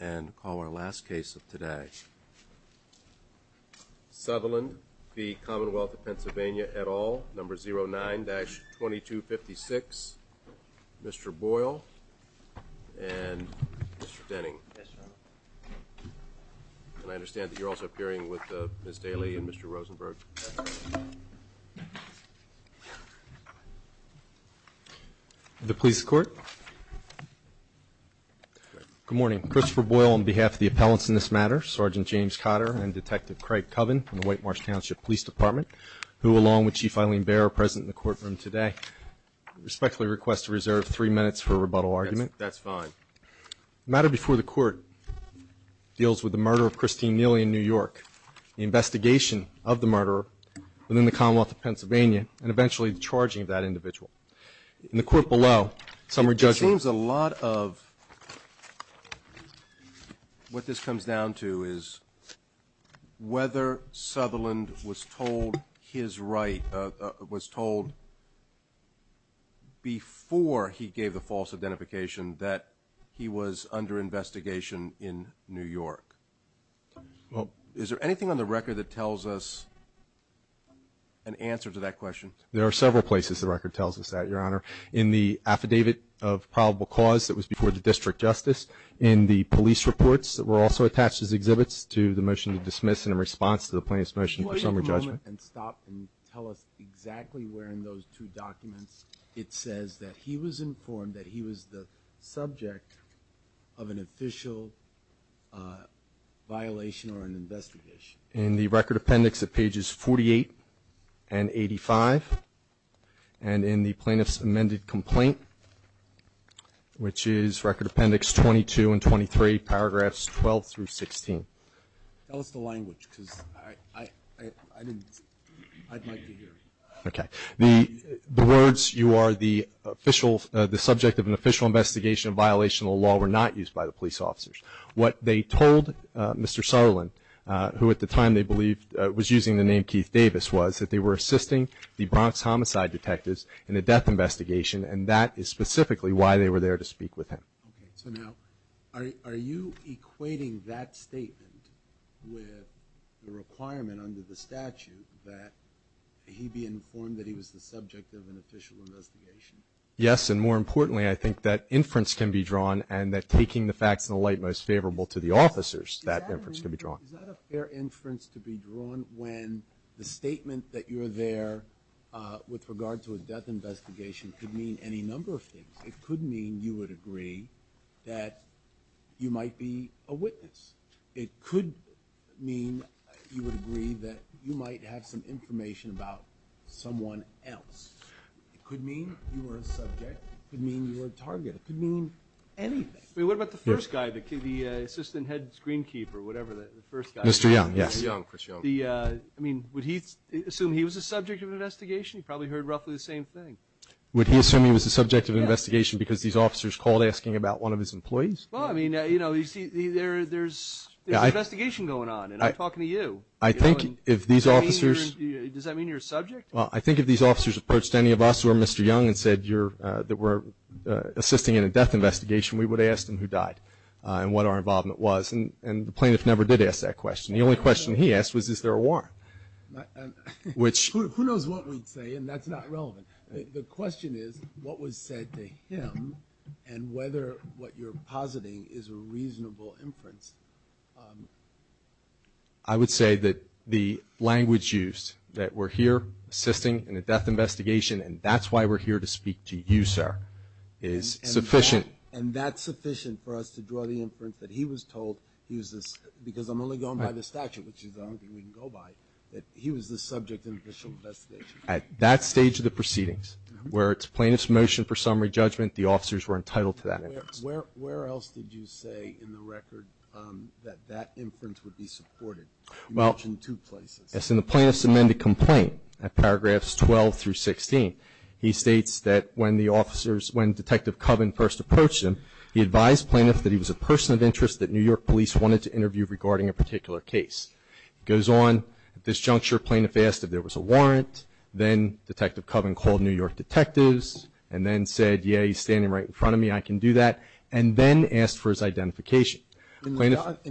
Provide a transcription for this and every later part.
And call our last case of today. Southerland v. Commonwealth of Pennsylvania et al., number 09-2256. Mr. Boyle and Mr. Denning. And I understand that you're also appearing with Ms. Daley and Mr. Rosenberg. The police court. Good morning. Christopher Boyle on behalf of the appellants in this matter, Sergeant James Cotter and Detective Craig Coven from the White Marsh Township Police Department, who along with Chief Eileen Baer are present in the courtroom today, respectfully request to reserve three minutes for a rebuttal argument. That's fine. The matter before the court deals with the murder of Christine Neely in New York, the investigation of the murderer within the Commonwealth of Pennsylvania, and eventually the charging of that individual. In the court below, some are judging. It seems a lot of what this comes down to is whether Southerland was told his right, was told before he gave the false identification that he was under investigation in New York. Is there anything on the record that tells us an answer to that question? There are several places the record tells us that, Your Honor. In the affidavit of probable cause that was before the district justice, in the police reports that were also attached as exhibits to the motion to dismiss and in response to the plaintiff's motion for summary judgment. Can you wait a moment and stop and tell us exactly where in those two documents it says that he was informed that he was the subject of an official violation or an investigation? In the record appendix at pages 48 and 85 and in the plaintiff's amended complaint, which is record appendix 22 and 23, paragraphs 12 through 16. Tell us the language because I'd like to hear it. Okay. The words, you are the subject of an official investigation of violation of the law, were not used by the police officers. What they told Mr. Sutherland, who at the time they believed was using the name Keith Davis, was that they were assisting the Bronx homicide detectives in a death investigation and that is specifically why they were there to speak with him. Okay. So now are you equating that statement with the requirement under the statute that he be informed that he was the subject of an official investigation? Yes, and more importantly, I think that inference can be drawn and that taking the facts in the light most favorable to the officers, that inference can be drawn. Is that a fair inference to be drawn when the statement that you were there with regard to a death investigation could mean any number of things? It could mean you would agree that you might be a witness. It could mean you would agree that you might have some information about someone else. It could mean you were a subject. It could mean you were a target. It could mean anything. What about the first guy, the assistant head screenkeeper, whatever the first guy was? Mr. Young, yes. Mr. Young, Chris Young. I mean, would he assume he was the subject of an investigation? He probably heard roughly the same thing. Would he assume he was the subject of an investigation because these officers called asking about one of his employees? Well, I mean, you know, there's an investigation going on and I'm talking to you. I think if these officers – Does that mean you're a subject? Well, I think if these officers approached any of us or Mr. Young and said that we're assisting in a death investigation, we would ask them who died and what our involvement was. And the plaintiff never did ask that question. The only question he asked was, is there a warrant? Who knows what we'd say, and that's not relevant. The question is what was said to him and whether what you're positing is a reasonable inference. I would say that the language used, that we're here assisting in a death investigation and that's why we're here to speak to you, sir, is sufficient. And that's sufficient for us to draw the inference that he was told he was the – because I'm only going by the statute, which is the only thing we can go by, that he was the subject of an official investigation. At that stage of the proceedings, where it's plaintiff's motion for summary judgment, the officers were entitled to that inference. Where else did you say in the record that that inference would be supported? You mentioned two places. It's in the plaintiff's amended complaint at paragraphs 12 through 16. He states that when the officers – when Detective Coven first approached him, he advised plaintiffs that he was a person of interest that New York police wanted to interview regarding a particular case. He goes on, at this juncture, plaintiff asked if there was a warrant. Then Detective Coven called New York detectives and then said, yeah, he's standing right in front of me, I can do that, and then asked for his identification. In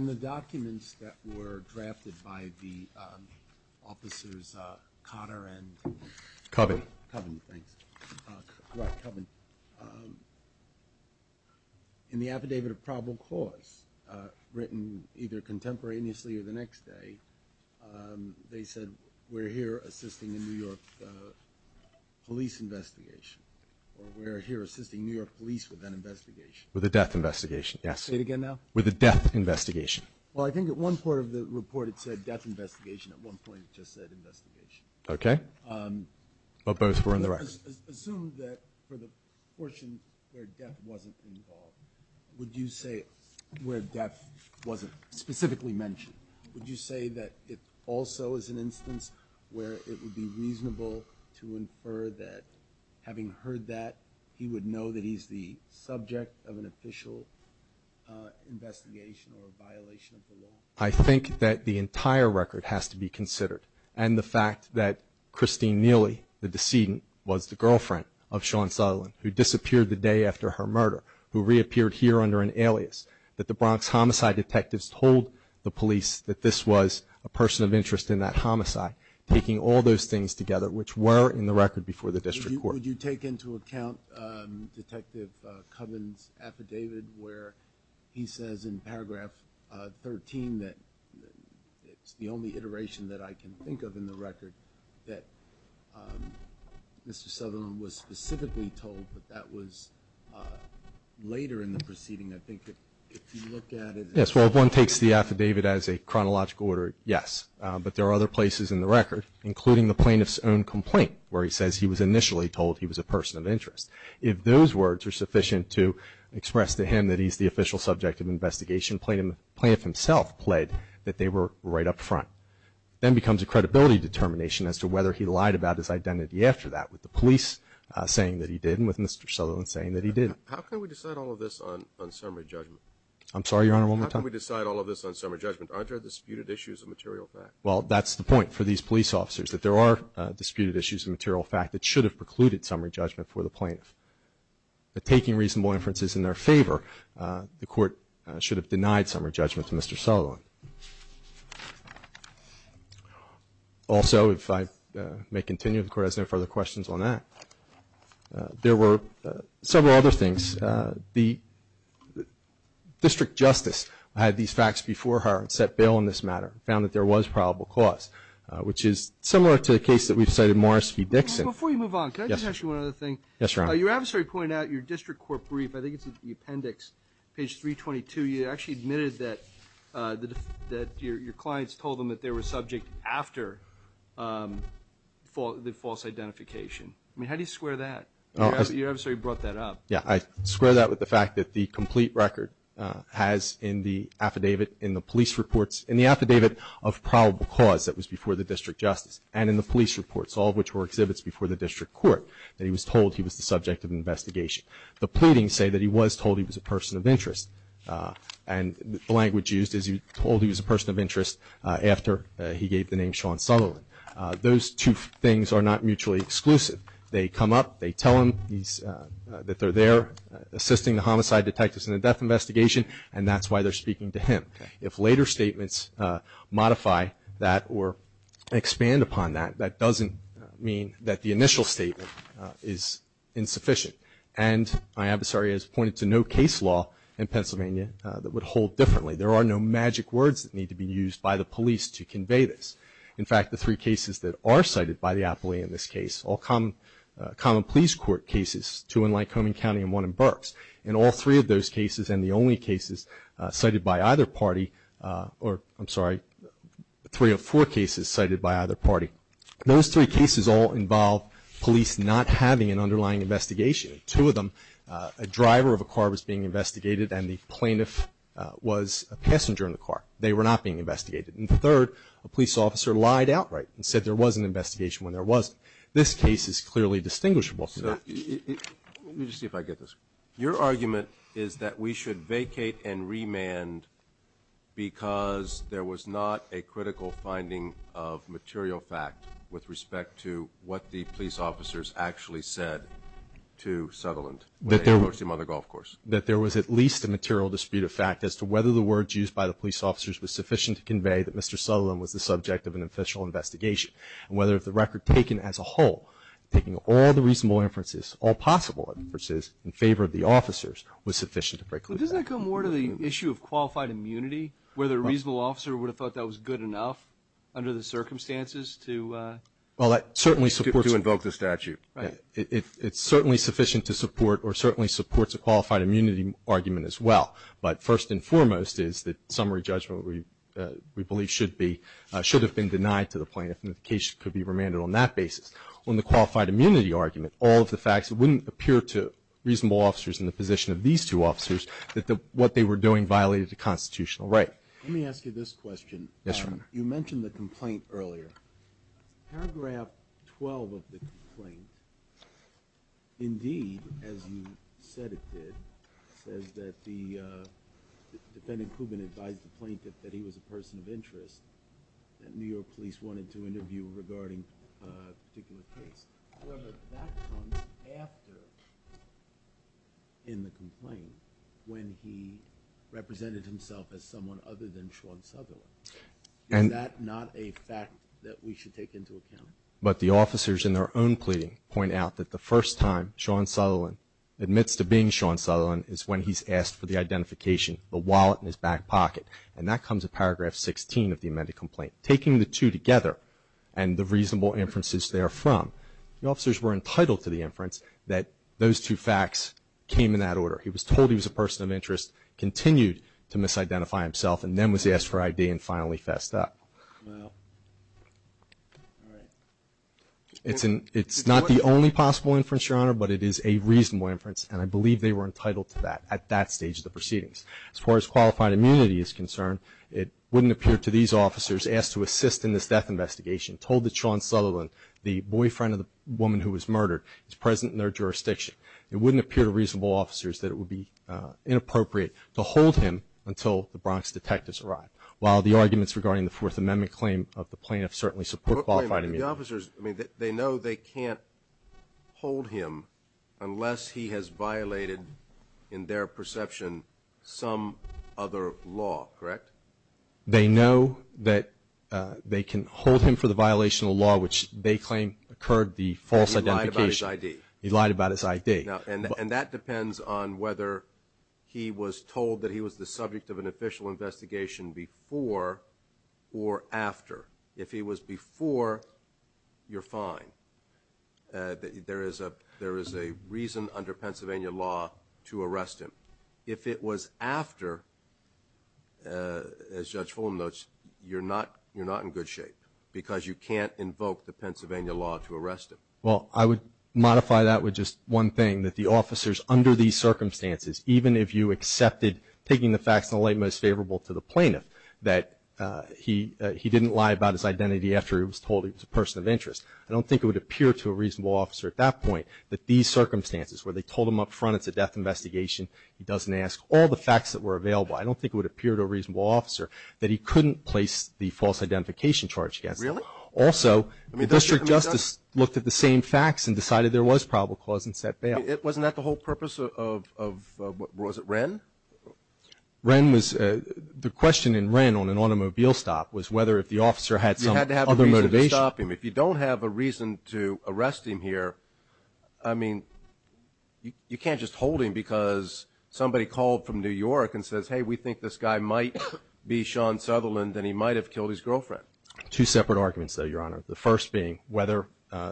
the documents that were drafted by the officers Cotter and – Coven. Coven, thanks. Right, Coven. In the affidavit of probable cause, written either contemporaneously or the next day, they said we're here assisting the New York police investigation or we're here assisting New York police with an investigation. With a death investigation, yes. Say it again now. With a death investigation. Well, I think at one part of the report it said death investigation. At one point it just said investigation. Okay. But both were in the record. Assume that for the portion where death wasn't involved, would you say where death wasn't specifically mentioned, would you say that it also is an instance where it would be reasonable to infer that having heard that he would know that he's the subject of an official investigation or a violation of the law? I think that the entire record has to be considered, and the fact that Christine Neely, the decedent, was the girlfriend of Sean Sutherland who disappeared the day after her murder, who reappeared here under an alias, that the Bronx homicide detectives told the police that this was a person of interest in that homicide, taking all those things together, which were in the record before the district court. Would you take into account Detective Coven's affidavit where he says in paragraph 13 that it's the only iteration that I can think of in the record that Mr. Sutherland was specifically told, but that was later in the proceeding. I think if you look at it. Yes, well, if one takes the affidavit as a chronological order, yes. But there are other places in the record, including the plaintiff's own complaint, where he says he was initially told he was a person of interest. If those words are sufficient to express to him that he's the official subject of investigation, the plaintiff himself pled that they were right up front. Then it becomes a credibility determination as to whether he lied about his identity after that, with the police saying that he did and with Mr. Sutherland saying that he didn't. How can we decide all of this on summary judgment? I'm sorry, Your Honor, one more time. How can we decide all of this on summary judgment? Aren't there disputed issues of material fact? Well, that's the point for these police officers, that there are disputed issues of material fact that should have precluded summary judgment for the plaintiff. But taking reasonable inferences in their favor, the Court should have denied summary judgment to Mr. Sutherland. Also, if I may continue, the Court has no further questions on that. There were several other things. The district justice had these facts before her and set bail on this matter, found that there was probable cause, which is similar to the case that we've cited, Morris v. Dixon. Before you move on, can I just ask you one other thing? Yes, Your Honor. Your adversary pointed out your district court brief. I think it's in the appendix, page 322. You actually admitted that your clients told them that they were subject after the false identification. I mean, how do you square that? Your adversary brought that up. Yes, I square that with the fact that the complete record has in the affidavit in the police reports, in the affidavit of probable cause that was before the district justice and in the police reports, all of which were exhibits before the district court, that he was told he was the subject of an investigation. The pleadings say that he was told he was a person of interest. And the language used is he was told he was a person of interest after he gave the name Sean Sutherland. Those two things are not mutually exclusive. They come up, they tell him that they're there assisting the homicide detectives in the death investigation, and that's why they're speaking to him. If later statements modify that or expand upon that, that doesn't mean that the initial statement is insufficient. And my adversary has pointed to no case law in Pennsylvania that would hold differently. There are no magic words that need to be used by the police to convey this. In fact, the three cases that are cited by the appellee in this case, all common police court cases, two in Lycoming County and one in Burks, and all three of those cases and the only cases cited by either party, or I'm sorry, three of four cases cited by either party, those three cases all involve police not having an underlying investigation. Two of them, a driver of a car was being investigated and the plaintiff was a passenger in the car. They were not being investigated. And third, a police officer lied outright and said there was an investigation when there wasn't. This case is clearly distinguishable. Let me just see if I get this. Your argument is that we should vacate and remand because there was not a critical finding of material fact with respect to what the police officers actually said to Sutherland when they approached him on the golf course. That there was at least a material dispute of fact as to whether the words used by the police officers was sufficient to convey that Mr. Sutherland was the subject of an official investigation and whether the record taken as a whole, taking all the reasonable inferences, all possible inferences in favor of the officers, was sufficient to break the fact. Doesn't that go more to the issue of qualified immunity, whether a reasonable officer would have thought that was good enough under the circumstances to invoke the statute? It's certainly sufficient to support or certainly supports a qualified immunity argument as well. But first and foremost is that summary judgment we believe should be, should have been denied to the plaintiff and the case could be remanded on that basis. On the qualified immunity argument, all of the facts wouldn't appear to reasonable officers in the position of these two officers that what they were doing violated the constitutional right. Let me ask you this question. Yes, Your Honor. You mentioned the complaint earlier. Paragraph 12 of the complaint, indeed, as you said it did, says that the defendant, Kubin, advised the plaintiff that he was a person of interest that New York police wanted to interview regarding a particular case. However, that comes after in the complaint when he represented himself as someone other than Sean Sutherland. Is that not a fact that we should take into account? But the officers in their own pleading point out that the first time Sean Sutherland admits to being Sean Sutherland is when he's asked for the identification, the wallet in his back pocket, and that comes in Paragraph 16 of the amended complaint. Taking the two together and the reasonable inferences therefrom, the officers were entitled to the inference that those two facts came in that order. He was told he was a person of interest, continued to misidentify himself, and then was asked for ID and finally fessed up. It's not the only possible inference, Your Honor, but it is a reasonable inference, and I believe they were entitled to that at that stage of the proceedings. As far as qualified immunity is concerned, it wouldn't appear to these officers asked to assist in this death investigation, told that Sean Sutherland, the boyfriend of the woman who was murdered, is present in their jurisdiction. It wouldn't appear to reasonable officers that it would be inappropriate to hold him until the Bronx detectives arrived. While the arguments regarding the Fourth Amendment claim of the plaintiff certainly support qualified immunity. The officers, I mean, they know they can't hold him unless he has violated, in their perception, some other law, correct? They know that they can hold him for the violation of the law, which they claim occurred the false identification. He lied about his ID. He lied about his ID. And that depends on whether he was told that he was the subject of an official investigation before or after. If he was before, you're fine. There is a reason under Pennsylvania law to arrest him. If it was after, as Judge Fulham notes, you're not in good shape because you can't invoke the Pennsylvania law to arrest him. Well, I would modify that with just one thing, that the officers under these circumstances, even if you accepted taking the facts in the light most favorable to the plaintiff, that he didn't lie about his identity after he was told he was a person of interest. I don't think it would appear to a reasonable officer at that point that these circumstances where they told him up front it's a death investigation, he doesn't ask all the facts that were available. I don't think it would appear to a reasonable officer that he couldn't place the false identification charge against him. Really? Also, the district justice looked at the same facts and decided there was probable cause and set bail. Wasn't that the whole purpose of, was it Wren? Wren was, the question in Wren on an automobile stop was whether if the officer had some other motivation. You had to have a reason to stop him. If you don't have a reason to arrest him here, I mean, you can't just hold him because somebody called from New York and says, hey, we think this guy might be Sean Sutherland and he might have killed his girlfriend. Two separate arguments, though, Your Honor. The first being whether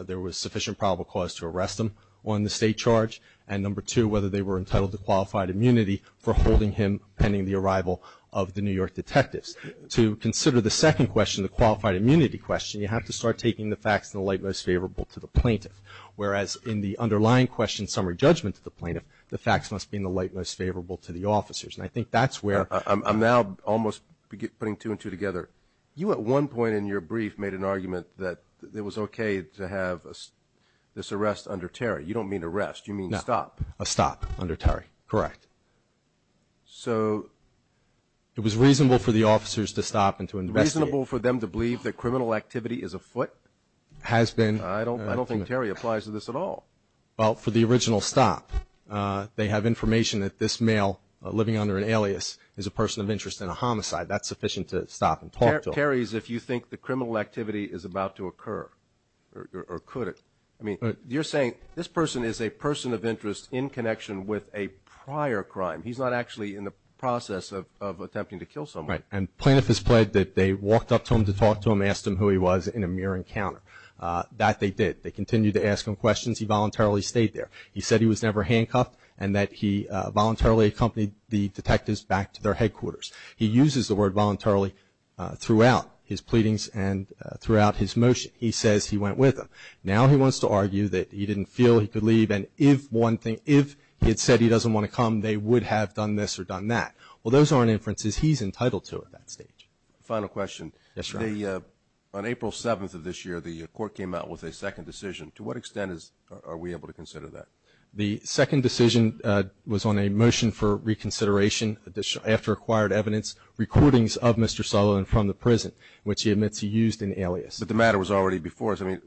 there was sufficient probable cause to arrest him on the state charge, and number two, whether they were entitled to qualified immunity for holding him pending the arrival of the New York detectives. To consider the second question, the qualified immunity question, you have to start taking the facts in the light most favorable to the plaintiff, whereas in the underlying question summary judgment to the plaintiff, the facts must be in the light most favorable to the officers. And I think that's where – I'm now almost putting two and two together. You at one point in your brief made an argument that it was okay to have this arrest under Terry. You don't mean arrest. You mean stop. No. A stop under Terry. Correct. So? It was reasonable for the officers to stop and to investigate. Reasonable for them to believe that criminal activity is afoot? Has been. I don't think Terry applies to this at all. Well, for the original stop, they have information that this male living under an alias is a person of interest in a homicide. That's sufficient to stop and talk to him. Terry's if you think the criminal activity is about to occur or could. I mean, you're saying this person is a person of interest in connection with a prior crime. He's not actually in the process of attempting to kill someone. Right. And plaintiff has pled that they walked up to him to talk to him, asked him who he was in a mere encounter. That they did. They continued to ask him questions. He voluntarily stayed there. He said he was never handcuffed and that he voluntarily accompanied the detectives back to their headquarters. He uses the word voluntarily throughout his pleadings and throughout his motion. He says he went with them. Now he wants to argue that he didn't feel he could leave and if he had said he doesn't want to come, they would have done this or done that. Well, those aren't inferences he's entitled to at that stage. Final question. Yes, Your Honor. On April 7th of this year, the court came out with a second decision. To what extent are we able to consider that? The second decision was on a motion for reconsideration after acquired evidence recordings of Mr. Sutherland from the prison, which he admits he used in alias. But the matter was already before us. I mean,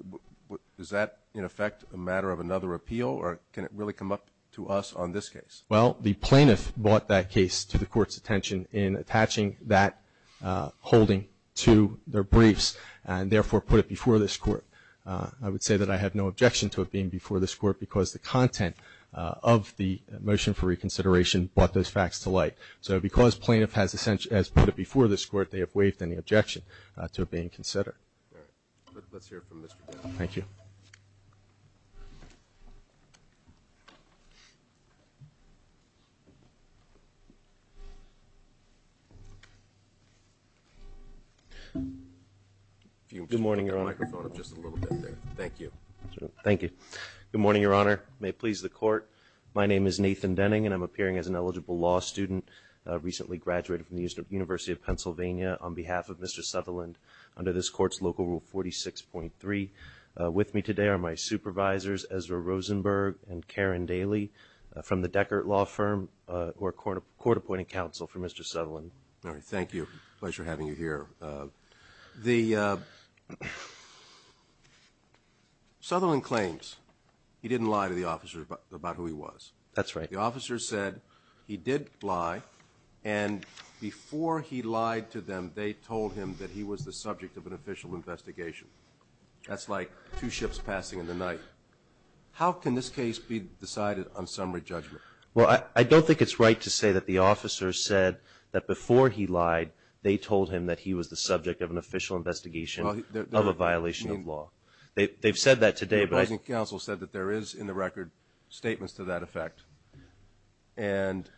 is that, in effect, a matter of another appeal or can it really come up to us on this case? Well, the plaintiff brought that case to the court's attention in attaching that holding to their briefs and, therefore, put it before this court. I would say that I have no objection to it being before this court because the content of the motion for reconsideration brought those facts to light. So because plaintiff has put it before this court, they have waived any objection to it being considered. All right. Let's hear it from Mr. Dunn. Thank you. If you could move the microphone up just a little bit there. Thank you. Thank you. Good morning, Your Honor. May it please the court, my name is Nathan Denning, and I'm appearing as an eligible law student, recently graduated from the University of Pennsylvania, on behalf of Mr. Sutherland under this court's local rule 46.3. With me today are my supervisors, Ezra Rosenberg and Karen Daly, from the Deckert Law Firm who are court-appointed counsel for Mr. Sutherland. All right. Thank you. Pleasure having you here. The Sutherland claims he didn't lie to the officer about who he was. That's right. The officer said he did lie, and before he lied to them they told him that he was the subject of an official investigation. That's like two ships passing in the night. How can this case be decided on summary judgment? Well, I don't think it's right to say that the officer said that before he lied, they told him that he was the subject of an official investigation of a violation of law. They've said that today. But I think counsel said that there is, in the record, statements to that effect. And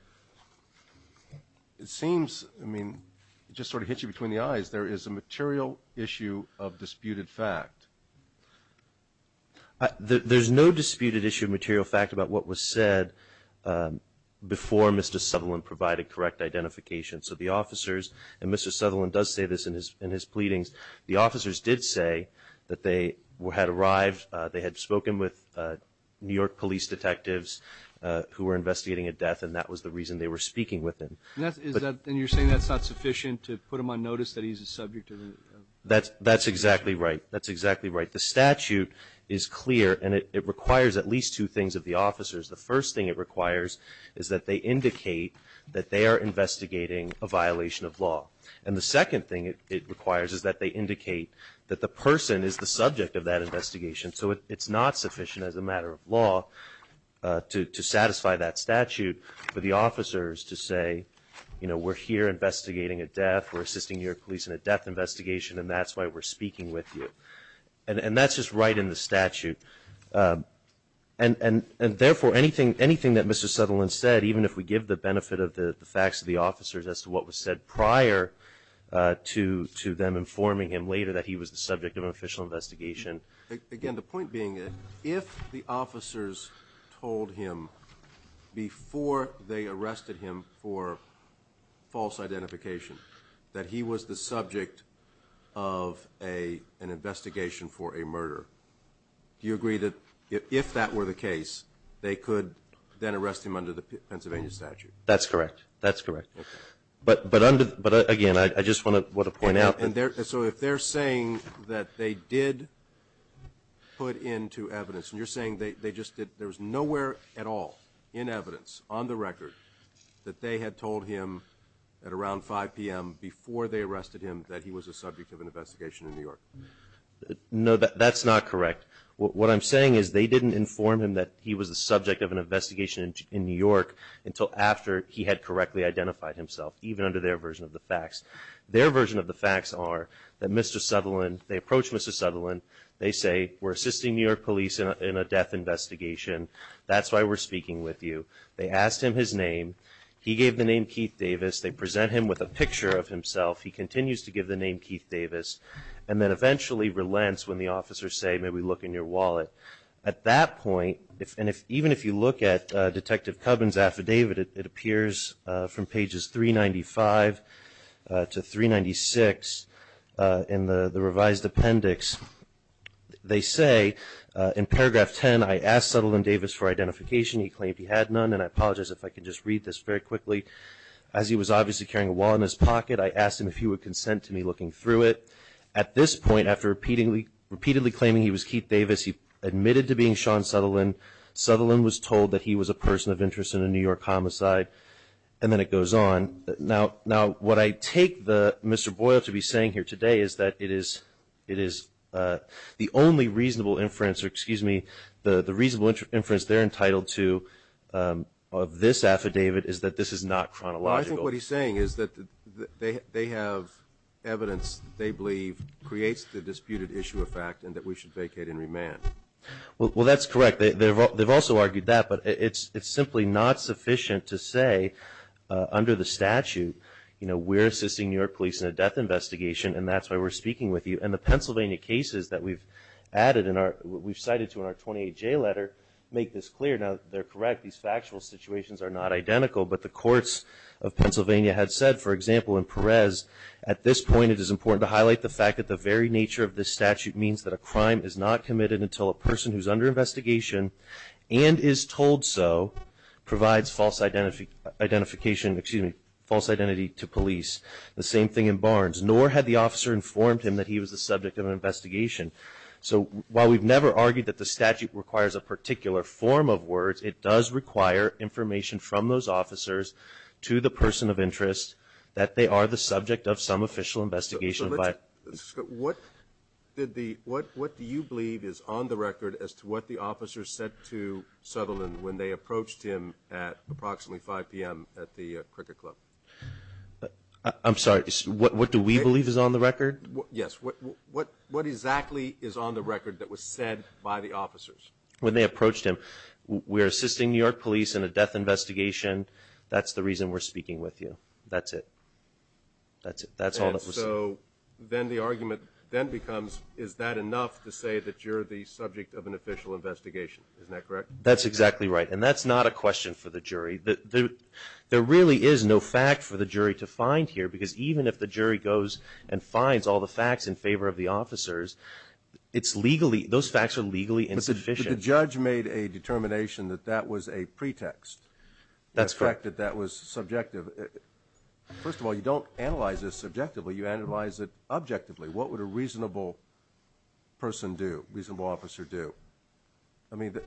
it seems, I mean, it just sort of hits you between the eyes. There is a material issue of disputed fact. There's no disputed issue of material fact about what was said before Mr. Sutherland provided correct identification. So the officers, and Mr. Sutherland does say this in his pleadings, the officers did say that they had arrived, they had spoken with New York police detectives who were investigating a death, and that was the reason they were speaking with him. And you're saying that's not sufficient to put him on notice that he's the subject of an investigation? That's exactly right. That's exactly right. The statute is clear, and it requires at least two things of the officers. The first thing it requires is that they indicate that they are investigating a violation of law. And the second thing it requires is that they indicate that the person is the subject of that investigation. So it's not sufficient as a matter of law to satisfy that statute for the officers to say, you know, we're here investigating a death, we're assisting New York police in a death investigation, and that's why we're speaking with you. And that's just right in the statute. And, therefore, anything that Mr. Sutherland said, even if we give the benefit of the facts to the officers as to what was said prior to them informing him later that he was the subject of an official investigation. Again, the point being that if the officers told him before they arrested him for false identification that he was the subject of an investigation for a murder, do you agree that if that were the case, they could then arrest him under the Pennsylvania statute? That's correct. That's correct. But, again, I just want to point out that they're saying that they did put into evidence, there was nowhere at all in evidence on the record that they had told him at around 5 p.m. before they arrested him that he was the subject of an investigation in New York. No, that's not correct. What I'm saying is they didn't inform him that he was the subject of an investigation in New York until after he had correctly identified himself, even under their version of the facts. Their version of the facts are that Mr. Sutherland, they approached Mr. Sutherland, they say, we're assisting New York police in a death investigation. That's why we're speaking with you. They asked him his name. He gave the name Keith Davis. They present him with a picture of himself. He continues to give the name Keith Davis and then eventually relents when the officers say, may we look in your wallet. At that point, and even if you look at Detective Cubbin's affidavit, it appears from pages 395 to 396 in the revised appendix. They say, in paragraph 10, I asked Sutherland Davis for identification. He claimed he had none, and I apologize if I can just read this very quickly. As he was obviously carrying a wallet in his pocket, I asked him if he would consent to me looking through it. At this point, after repeatedly claiming he was Keith Davis, he admitted to being Sean Sutherland. Sutherland was told that he was a person of interest in a New York homicide, and then it goes on. Now, what I take Mr. Boyle to be saying here today is that it is the only reasonable inference, or excuse me, the reasonable inference they're entitled to of this affidavit is that this is not chronological. I think what he's saying is that they have evidence they believe creates the disputed issue of fact and that we should vacate and remand. Well, that's correct. They've also argued that, but it's simply not sufficient to say under the statute, you know, we're assisting New York police in a death investigation, and that's why we're speaking with you. And the Pennsylvania cases that we've cited to in our 28J letter make this clear. Now, they're correct. These factual situations are not identical, but the courts of Pennsylvania had said, for example, in Perez, at this point it is important to highlight the fact that the very nature of this statute means that a crime is not committed until a person who's under investigation and is told so provides false identification, excuse me, false identity to police. The same thing in Barnes. Nor had the officer informed him that he was the subject of an investigation. So while we've never argued that the statute requires a particular form of words, it does require information from those officers to the person of interest that they are the subject of some official investigation. What do you believe is on the record as to what the officers said to Sutherland when they approached him at approximately 5 p.m. at the cricket club? I'm sorry. What do we believe is on the record? Yes. What exactly is on the record that was said by the officers? When they approached him, we're assisting New York police in a death investigation. That's the reason we're speaking with you. That's it. That's it. So then the argument then becomes, is that enough to say that you're the subject of an official investigation? Isn't that correct? That's exactly right, and that's not a question for the jury. There really is no fact for the jury to find here because even if the jury goes and finds all the facts in favor of the officers, those facts are legally insufficient. But the judge made a determination that that was a pretext. That's correct. The fact that that was subjective. First of all, you don't analyze this subjectively. You analyze it objectively. What would a reasonable person do, reasonable officer do? I mean,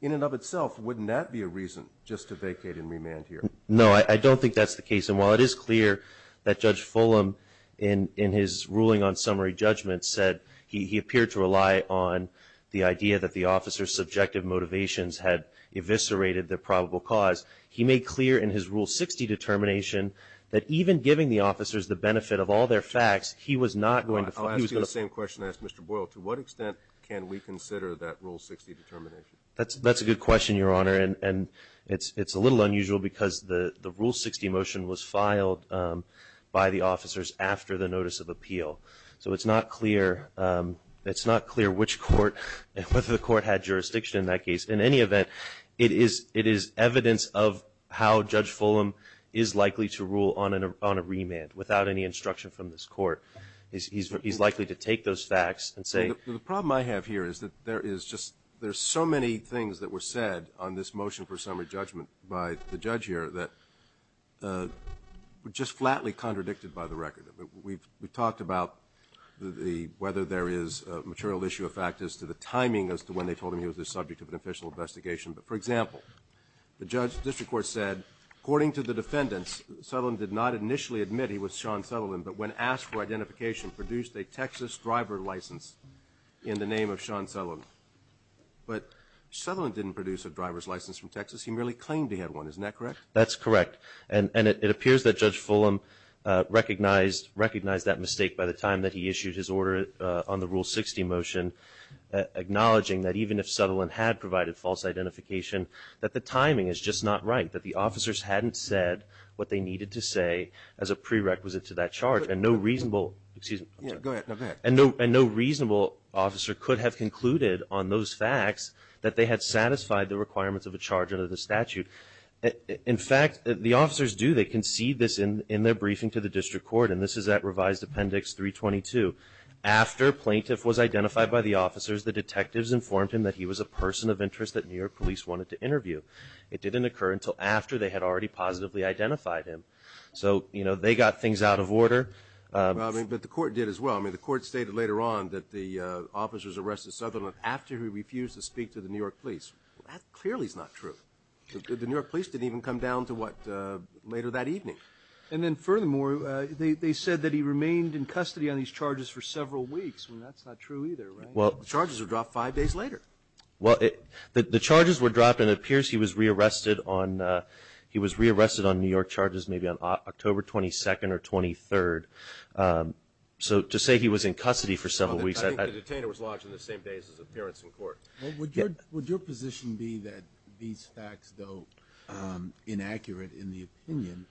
in and of itself, wouldn't that be a reason just to vacate and remand here? No, I don't think that's the case. And while it is clear that Judge Fulham, in his ruling on summary judgment, said he appeared to rely on the idea that the officers' subjective motivations had eviscerated the probable cause, he made clear in his Rule 60 determination that even giving the officers the benefit of all their facts, he was not going to I'll ask you the same question I asked Mr. Boyle. To what extent can we consider that Rule 60 determination? That's a good question, Your Honor, and it's a little unusual because the Rule 60 motion was filed by the officers after the notice of appeal. So it's not clear which court, whether the court had jurisdiction in that case. In any event, it is evidence of how Judge Fulham is likely to rule on a remand without any instruction from this court. He's likely to take those facts and say The problem I have here is that there is just there's so many things that were said on this motion for summary judgment by the judge here that were just flatly contradicted by the record. We've talked about whether there is a material issue of fact as to the timing as to when they told him he was the subject of an official investigation. But, for example, the judge's district court said According to the defendants, Sutherland did not initially admit he was Sean Sutherland but when asked for identification, produced a Texas driver license in the name of Sean Sutherland. But Sutherland didn't produce a driver's license from Texas. He merely claimed he had one. Isn't that correct? That's correct. And it appears that Judge Fulham recognized that mistake by the time that he issued his order on the Rule 60 motion, acknowledging that even if Sutherland had provided false identification, that the timing is just not right, that the officers hadn't said what they needed to say as a prerequisite to that charge. And no reasonable Excuse me. Go ahead. No, go ahead. And no reasonable officer could have concluded on those facts that they had satisfied the requirements of a charge under the statute. In fact, the officers do. They concede this in their briefing to the district court. And this is at revised appendix 322. After plaintiff was identified by the officers, the detectives informed him that he was a person of interest that New York police wanted to interview. It didn't occur until after they had already positively identified him. So, you know, they got things out of order. But the court did as well. I mean, the court stated later on that the officers arrested Sutherland after he refused to speak to the New York police. That clearly is not true. The New York police didn't even come down to what later that evening. And then, furthermore, they said that he remained in custody on these charges for several weeks. I mean, that's not true either, right? The charges were dropped five days later. Well, the charges were dropped and it appears he was rearrested on New York charges maybe on October 22nd or 23rd. So to say he was in custody for several weeks. I think the detainer was lodged in the same days as his appearance in court. Well, would your position be that these facts, though inaccurate in the opinion,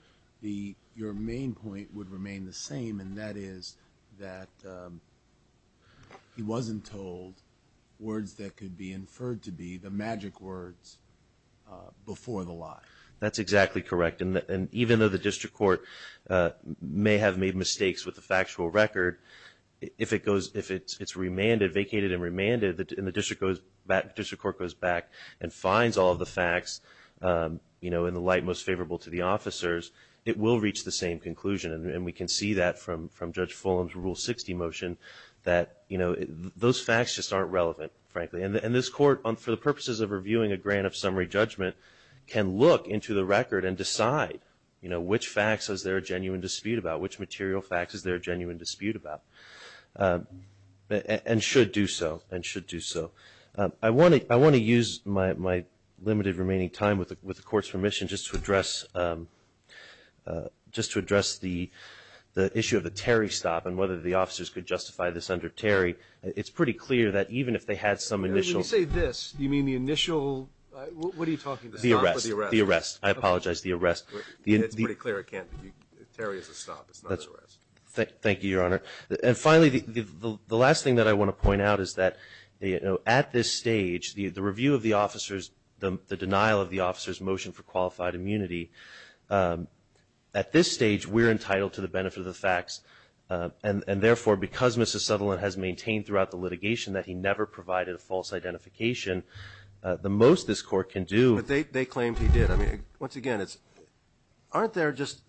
your main point would remain the same, and that is that he wasn't told words that could be inferred to be the magic words before the lie. That's exactly correct. And even though the district court may have made mistakes with the factual record, if it's remanded, vacated and remanded, and the district court goes back and finds all the facts in the light most favorable to the officers, it will reach the same conclusion. And we can see that from Judge Fulham's Rule 60 motion that those facts just aren't relevant, frankly. And this court, for the purposes of reviewing a grant of summary judgment, can look into the record and decide which facts is there a genuine dispute about, which material facts is there a genuine dispute about, and should do so, and should do so. I want to use my limited remaining time with the Court's permission just to address the issue of the Terry stop and whether the officers could justify this under Terry. It's pretty clear that even if they had some initial ---- When you say this, do you mean the initial ---- what are you talking about? The arrest. The arrest. I apologize. The arrest. It's pretty clear it can't be. Terry is a stop. It's not an arrest. Thank you, Your Honor. And finally, the last thing that I want to point out is that at this stage, the review of the officers, the denial of the officers' motion for qualified immunity, at this stage we're entitled to the benefit of the facts. And therefore, because Mr. Sutherland has maintained throughout the litigation that he never provided a false identification, the most this Court can do ---- But they claimed he did. Once again, aren't there just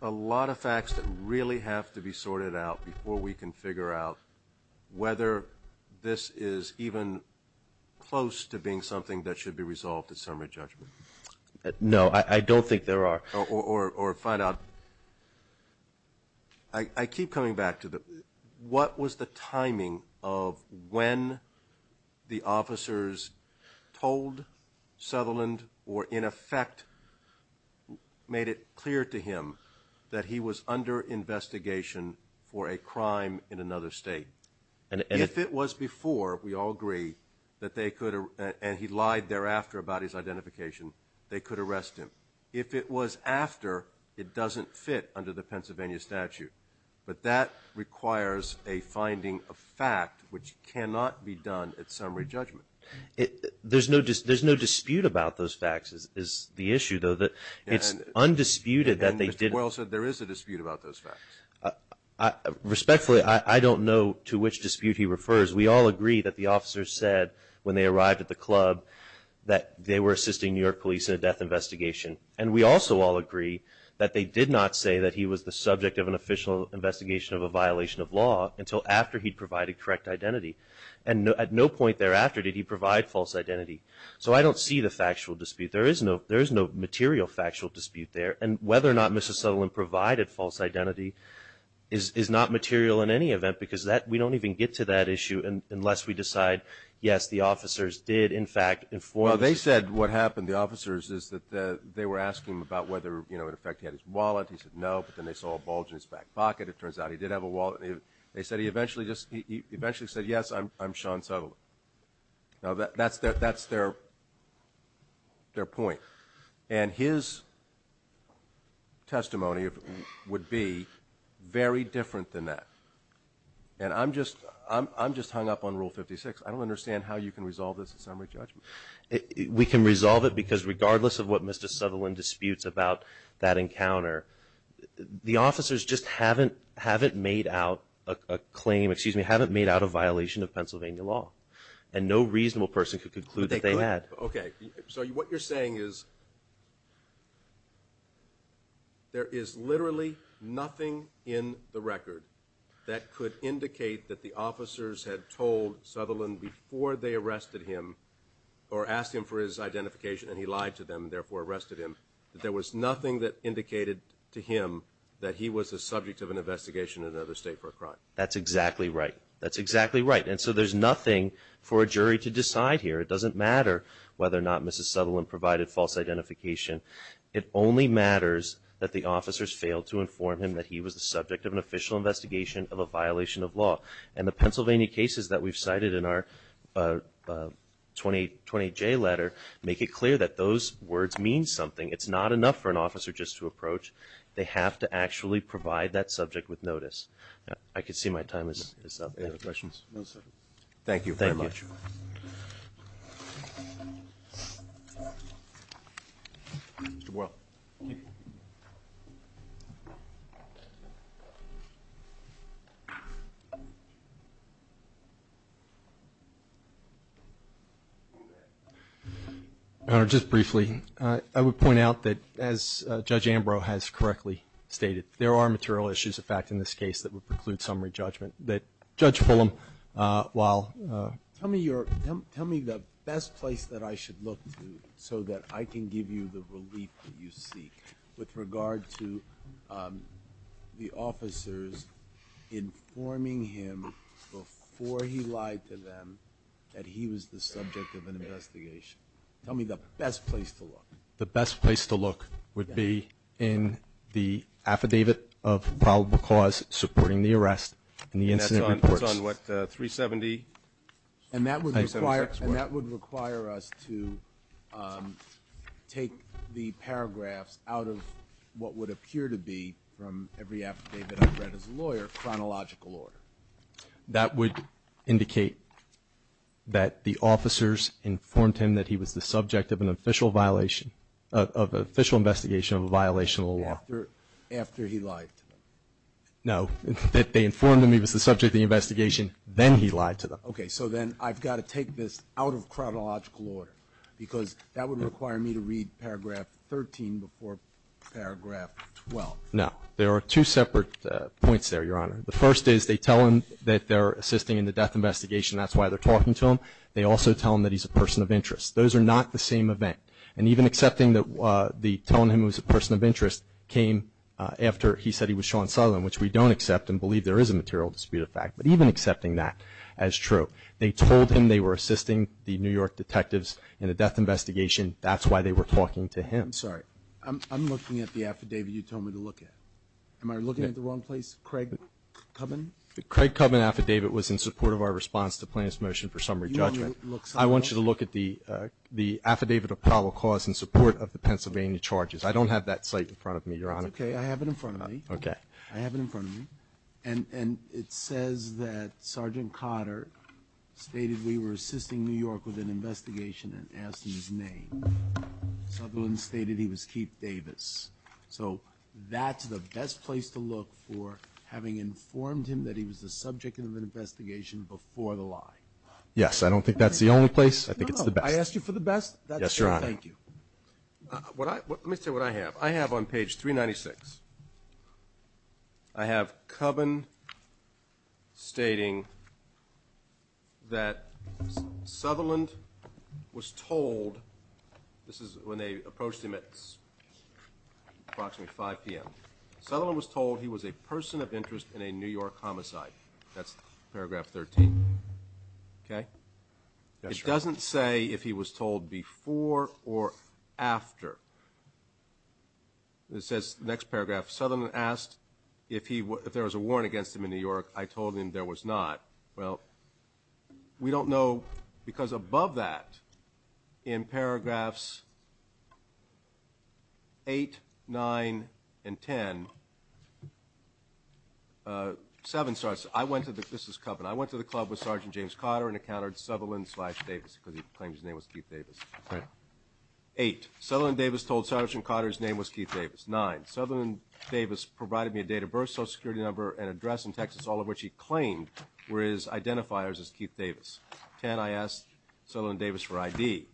a lot of facts that really have to be sorted out before we can figure out whether this is even close to being something that should be resolved at summary judgment? No, I don't think there are. Or find out. I keep coming back to what was the timing of when the officers told Sutherland or in effect made it clear to him that he was under investigation for a crime in another state. If it was before, we all agree, that they could ---- and he lied thereafter about his identification, they could arrest him. If it was after, it doesn't fit under the Pennsylvania statute. But that requires a finding of fact which cannot be done at summary judgment. There's no dispute about those facts is the issue, though. It's undisputed that they did ---- And Mr. Boyle said there is a dispute about those facts. Respectfully, I don't know to which dispute he refers. We all agree that the officers said when they arrived at the club that they were assisting New York police in a death investigation. And we also all agree that they did not say that he was the subject of an official investigation of a violation of law until after he provided correct identity. And at no point thereafter did he provide false identity. So I don't see the factual dispute. There is no material factual dispute there. And whether or not Mr. Sutherland provided false identity is not material in any event because we don't even get to that issue unless we decide, yes, the officers did in fact inform ---- No, they said what happened, the officers, is that they were asking him about whether, you know, in effect he had his wallet. He said no. But then they saw a bulge in his back pocket. It turns out he did have a wallet. They said he eventually just ---- he eventually said, yes, I'm Sean Sutherland. Now, that's their point. And his testimony would be very different than that. And I'm just hung up on Rule 56. I don't understand how you can resolve this in summary judgment. We can resolve it because regardless of what Mr. Sutherland disputes about that encounter, the officers just haven't made out a claim, excuse me, haven't made out a violation of Pennsylvania law. And no reasonable person could conclude that they had. Okay. So what you're saying is there is literally nothing in the record that could indicate that the officers had told Sutherland before they arrested him or asked him for his identification and he lied to them and therefore arrested him, that there was nothing that indicated to him that he was the subject of an investigation in another state for a crime. That's exactly right. That's exactly right. And so there's nothing for a jury to decide here. It doesn't matter whether or not Mrs. Sutherland provided false identification. It only matters that the officers failed to inform him that he was the subject of an official investigation of a violation of law. And the Pennsylvania cases that we've cited in our 20J letter make it clear that those words mean something. It's not enough for an officer just to approach. They have to actually provide that subject with notice. I can see my time is up. Any other questions? Thank you very much. Thank you. Mr. Boyle. Thank you. Your Honor, just briefly, I would point out that as Judge Ambrose has correctly stated, there are material issues of fact in this case that would preclude summary judgment. Tell me the best place that I should look to so that I can give you the relief that you seek with regard to the officers informing him before he lied to them that he was the subject of an investigation. Tell me the best place to look. The best place to look would be in the affidavit of probable cause supporting the arrest and the incident reports. And that's on what, 370? And that would require us to take the paragraphs out of what would appear to be, from every affidavit I've read as a lawyer, chronological order. That would indicate that the officers informed him that he was the subject of an official violation, of an official investigation of a violation of the law. After he lied to them? No. That they informed him he was the subject of the investigation, then he lied to them. Okay. So then I've got to take this out of chronological order, because that would require me to read paragraph 13 before paragraph 12. No. There are two separate points there, Your Honor. The first is they tell him that they're assisting in the death investigation. That's why they're talking to him. They also tell him that he's a person of interest. Those are not the same event. And even accepting that telling him he was a person of interest came after he said he was Sean Sutherland, which we don't accept and believe there is a material dispute of fact. But even accepting that as true, they told him they were assisting the New York detectives in a death investigation. That's why they were talking to him. I'm sorry. I'm looking at the affidavit you told me to look at. Am I looking at the wrong place? Craig-Cubbin? The Craig-Cubbin affidavit was in support of our response to plaintiff's motion for summary judgment. You want me to look somewhere else? I want you to look at the affidavit of probable cause in support of the Pennsylvania charges. I don't have that cite in front of me, Your Honor. It's okay. I have it in front of me. Okay. I have it in front of me. And it says that Sergeant Cotter stated we were assisting New York with an investigation and asked him his name. Sutherland stated he was Keith Davis. So that's the best place to look for having informed him that he was the subject of an investigation before the lie. Yes. I don't think that's the only place. I think it's the best. No, no. I asked you for the best. Yes, Your Honor. Thank you. Let me tell you what I have. I have on page 396. I have Cubbon stating that Sutherland was told this is when they approached him at approximately 5 p.m. Sutherland was told he was a person of interest in a New York homicide. That's paragraph 13. Okay? Yes, Your Honor. It doesn't say if he was told before or after. It says, next paragraph, Sutherland asked if there was a warrant against him in New York. I told him there was not. Well, we don't know because above that in paragraphs 8, 9, and 10, 7 starts, I went to the, this is Cubbon, I went to the club with Sergeant James Cotter and encountered Sutherland slash Davis because he claimed his name was Keith Davis. Right. Eight, Sutherland Davis told Sergeant Cotter his name was Keith Davis. Nine, Sutherland Davis provided me a date of birth, social security number, and address in Texas, all of which he claimed were his identifiers as Keith Davis. Ten, I asked Sutherland Davis for ID,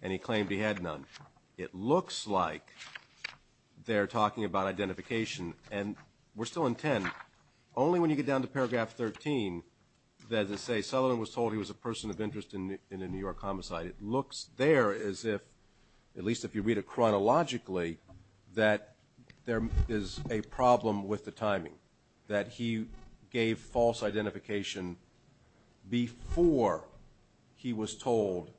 and he claimed he had none. It looks like they're talking about identification, and we're still in 10. Only when you get down to paragraph 13 does it say Sutherland was told he was a person of interest in a New York homicide. It looks there as if, at least if you read it chronologically, that there is a problem with the timing, that he gave false identification before he was told,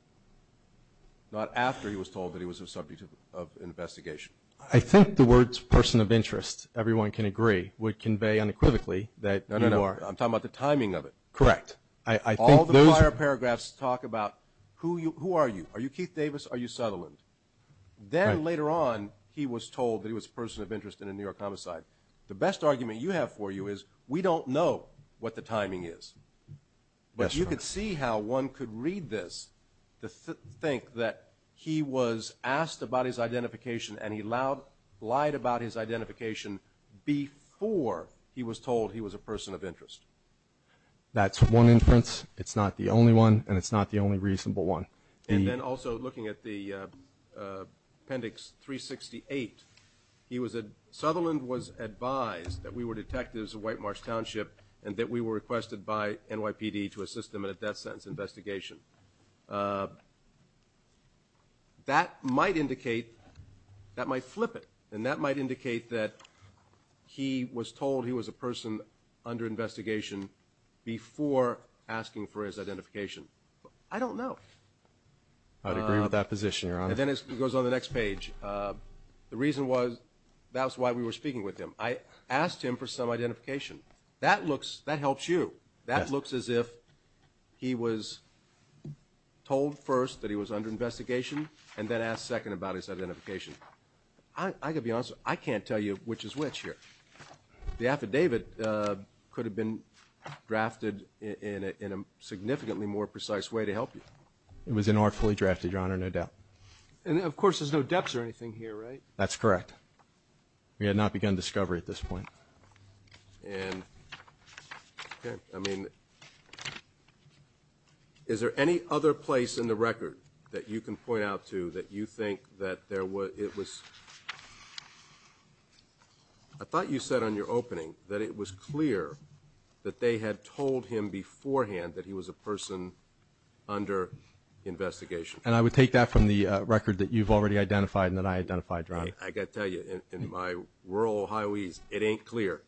not after he was told, that he was a subject of investigation. I think the words person of interest, everyone can agree, would convey unequivocally that you are. No, no, no, I'm talking about the timing of it. Correct. All the prior paragraphs talk about who are you? Are you Keith Davis? Are you Sutherland? Then later on, he was told that he was a person of interest in a New York homicide. The best argument you have for you is we don't know what the timing is. But you could see how one could read this to think that he was asked about his identification and he lied about his identification before he was told he was a person of interest. That's one inference. It's not the only one, and it's not the only reasonable one. And then also looking at the appendix 368, Sutherland was advised that we were detectives of White Marsh Township and that we were requested by NYPD to assist him in a death sentence investigation. That might indicate, that might flip it, and that might indicate that he was told he was a person under investigation before asking for his identification. I don't know. I would agree with that position, Your Honor. And then it goes on the next page. The reason was that's why we were speaking with him. I asked him for some identification. That looks, that helps you. That looks as if he was told first that he was under investigation and then asked second about his identification. I can be honest with you. I can't tell you which is which here. The affidavit could have been drafted in a significantly more precise way to help you. It was an artfully drafted, Your Honor, no doubt. And, of course, there's no depths or anything here, right? That's correct. We had not begun discovery at this point. And, I mean, is there any other place in the record that you can point out to that you think that there was, it was, I thought you said on your opening that it was clear that they had told him beforehand that he was a person under investigation. And I would take that from the record that you've already identified and that I identified, Your Honor. I've got to tell you, in my rural Ohioese, it ain't clear.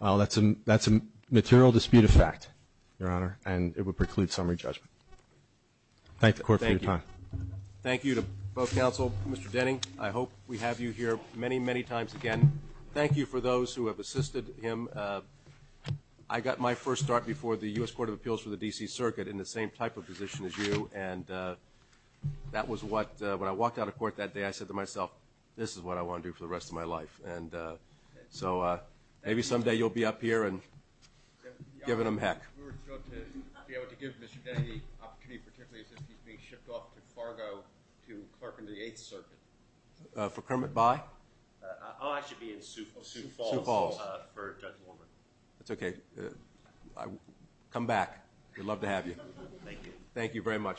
Well, that's a material dispute of fact, Your Honor, and it would preclude summary judgment. Thank the Court for your time. Thank you. Thank you to both counsel, Mr. Denny. I hope we have you here many, many times again. Thank you for those who have assisted him. I got my first start before the U.S. Court of Appeals for the D.C. Circuit in the same type of position as you, and that was what, when I walked out of court that day, I said to myself, this is what I want to do for the rest of my life. And so maybe someday you'll be up here and giving them heck. We were thrilled to be able to give Mr. Denny the opportunity, particularly since he's being shipped off to Fargo to clerk in the Eighth Circuit. For Kermit by? I'll actually be in Sioux Falls for Judge Warner. That's okay. Come back. We'd love to have you. Thank you. Thank you very much. All right.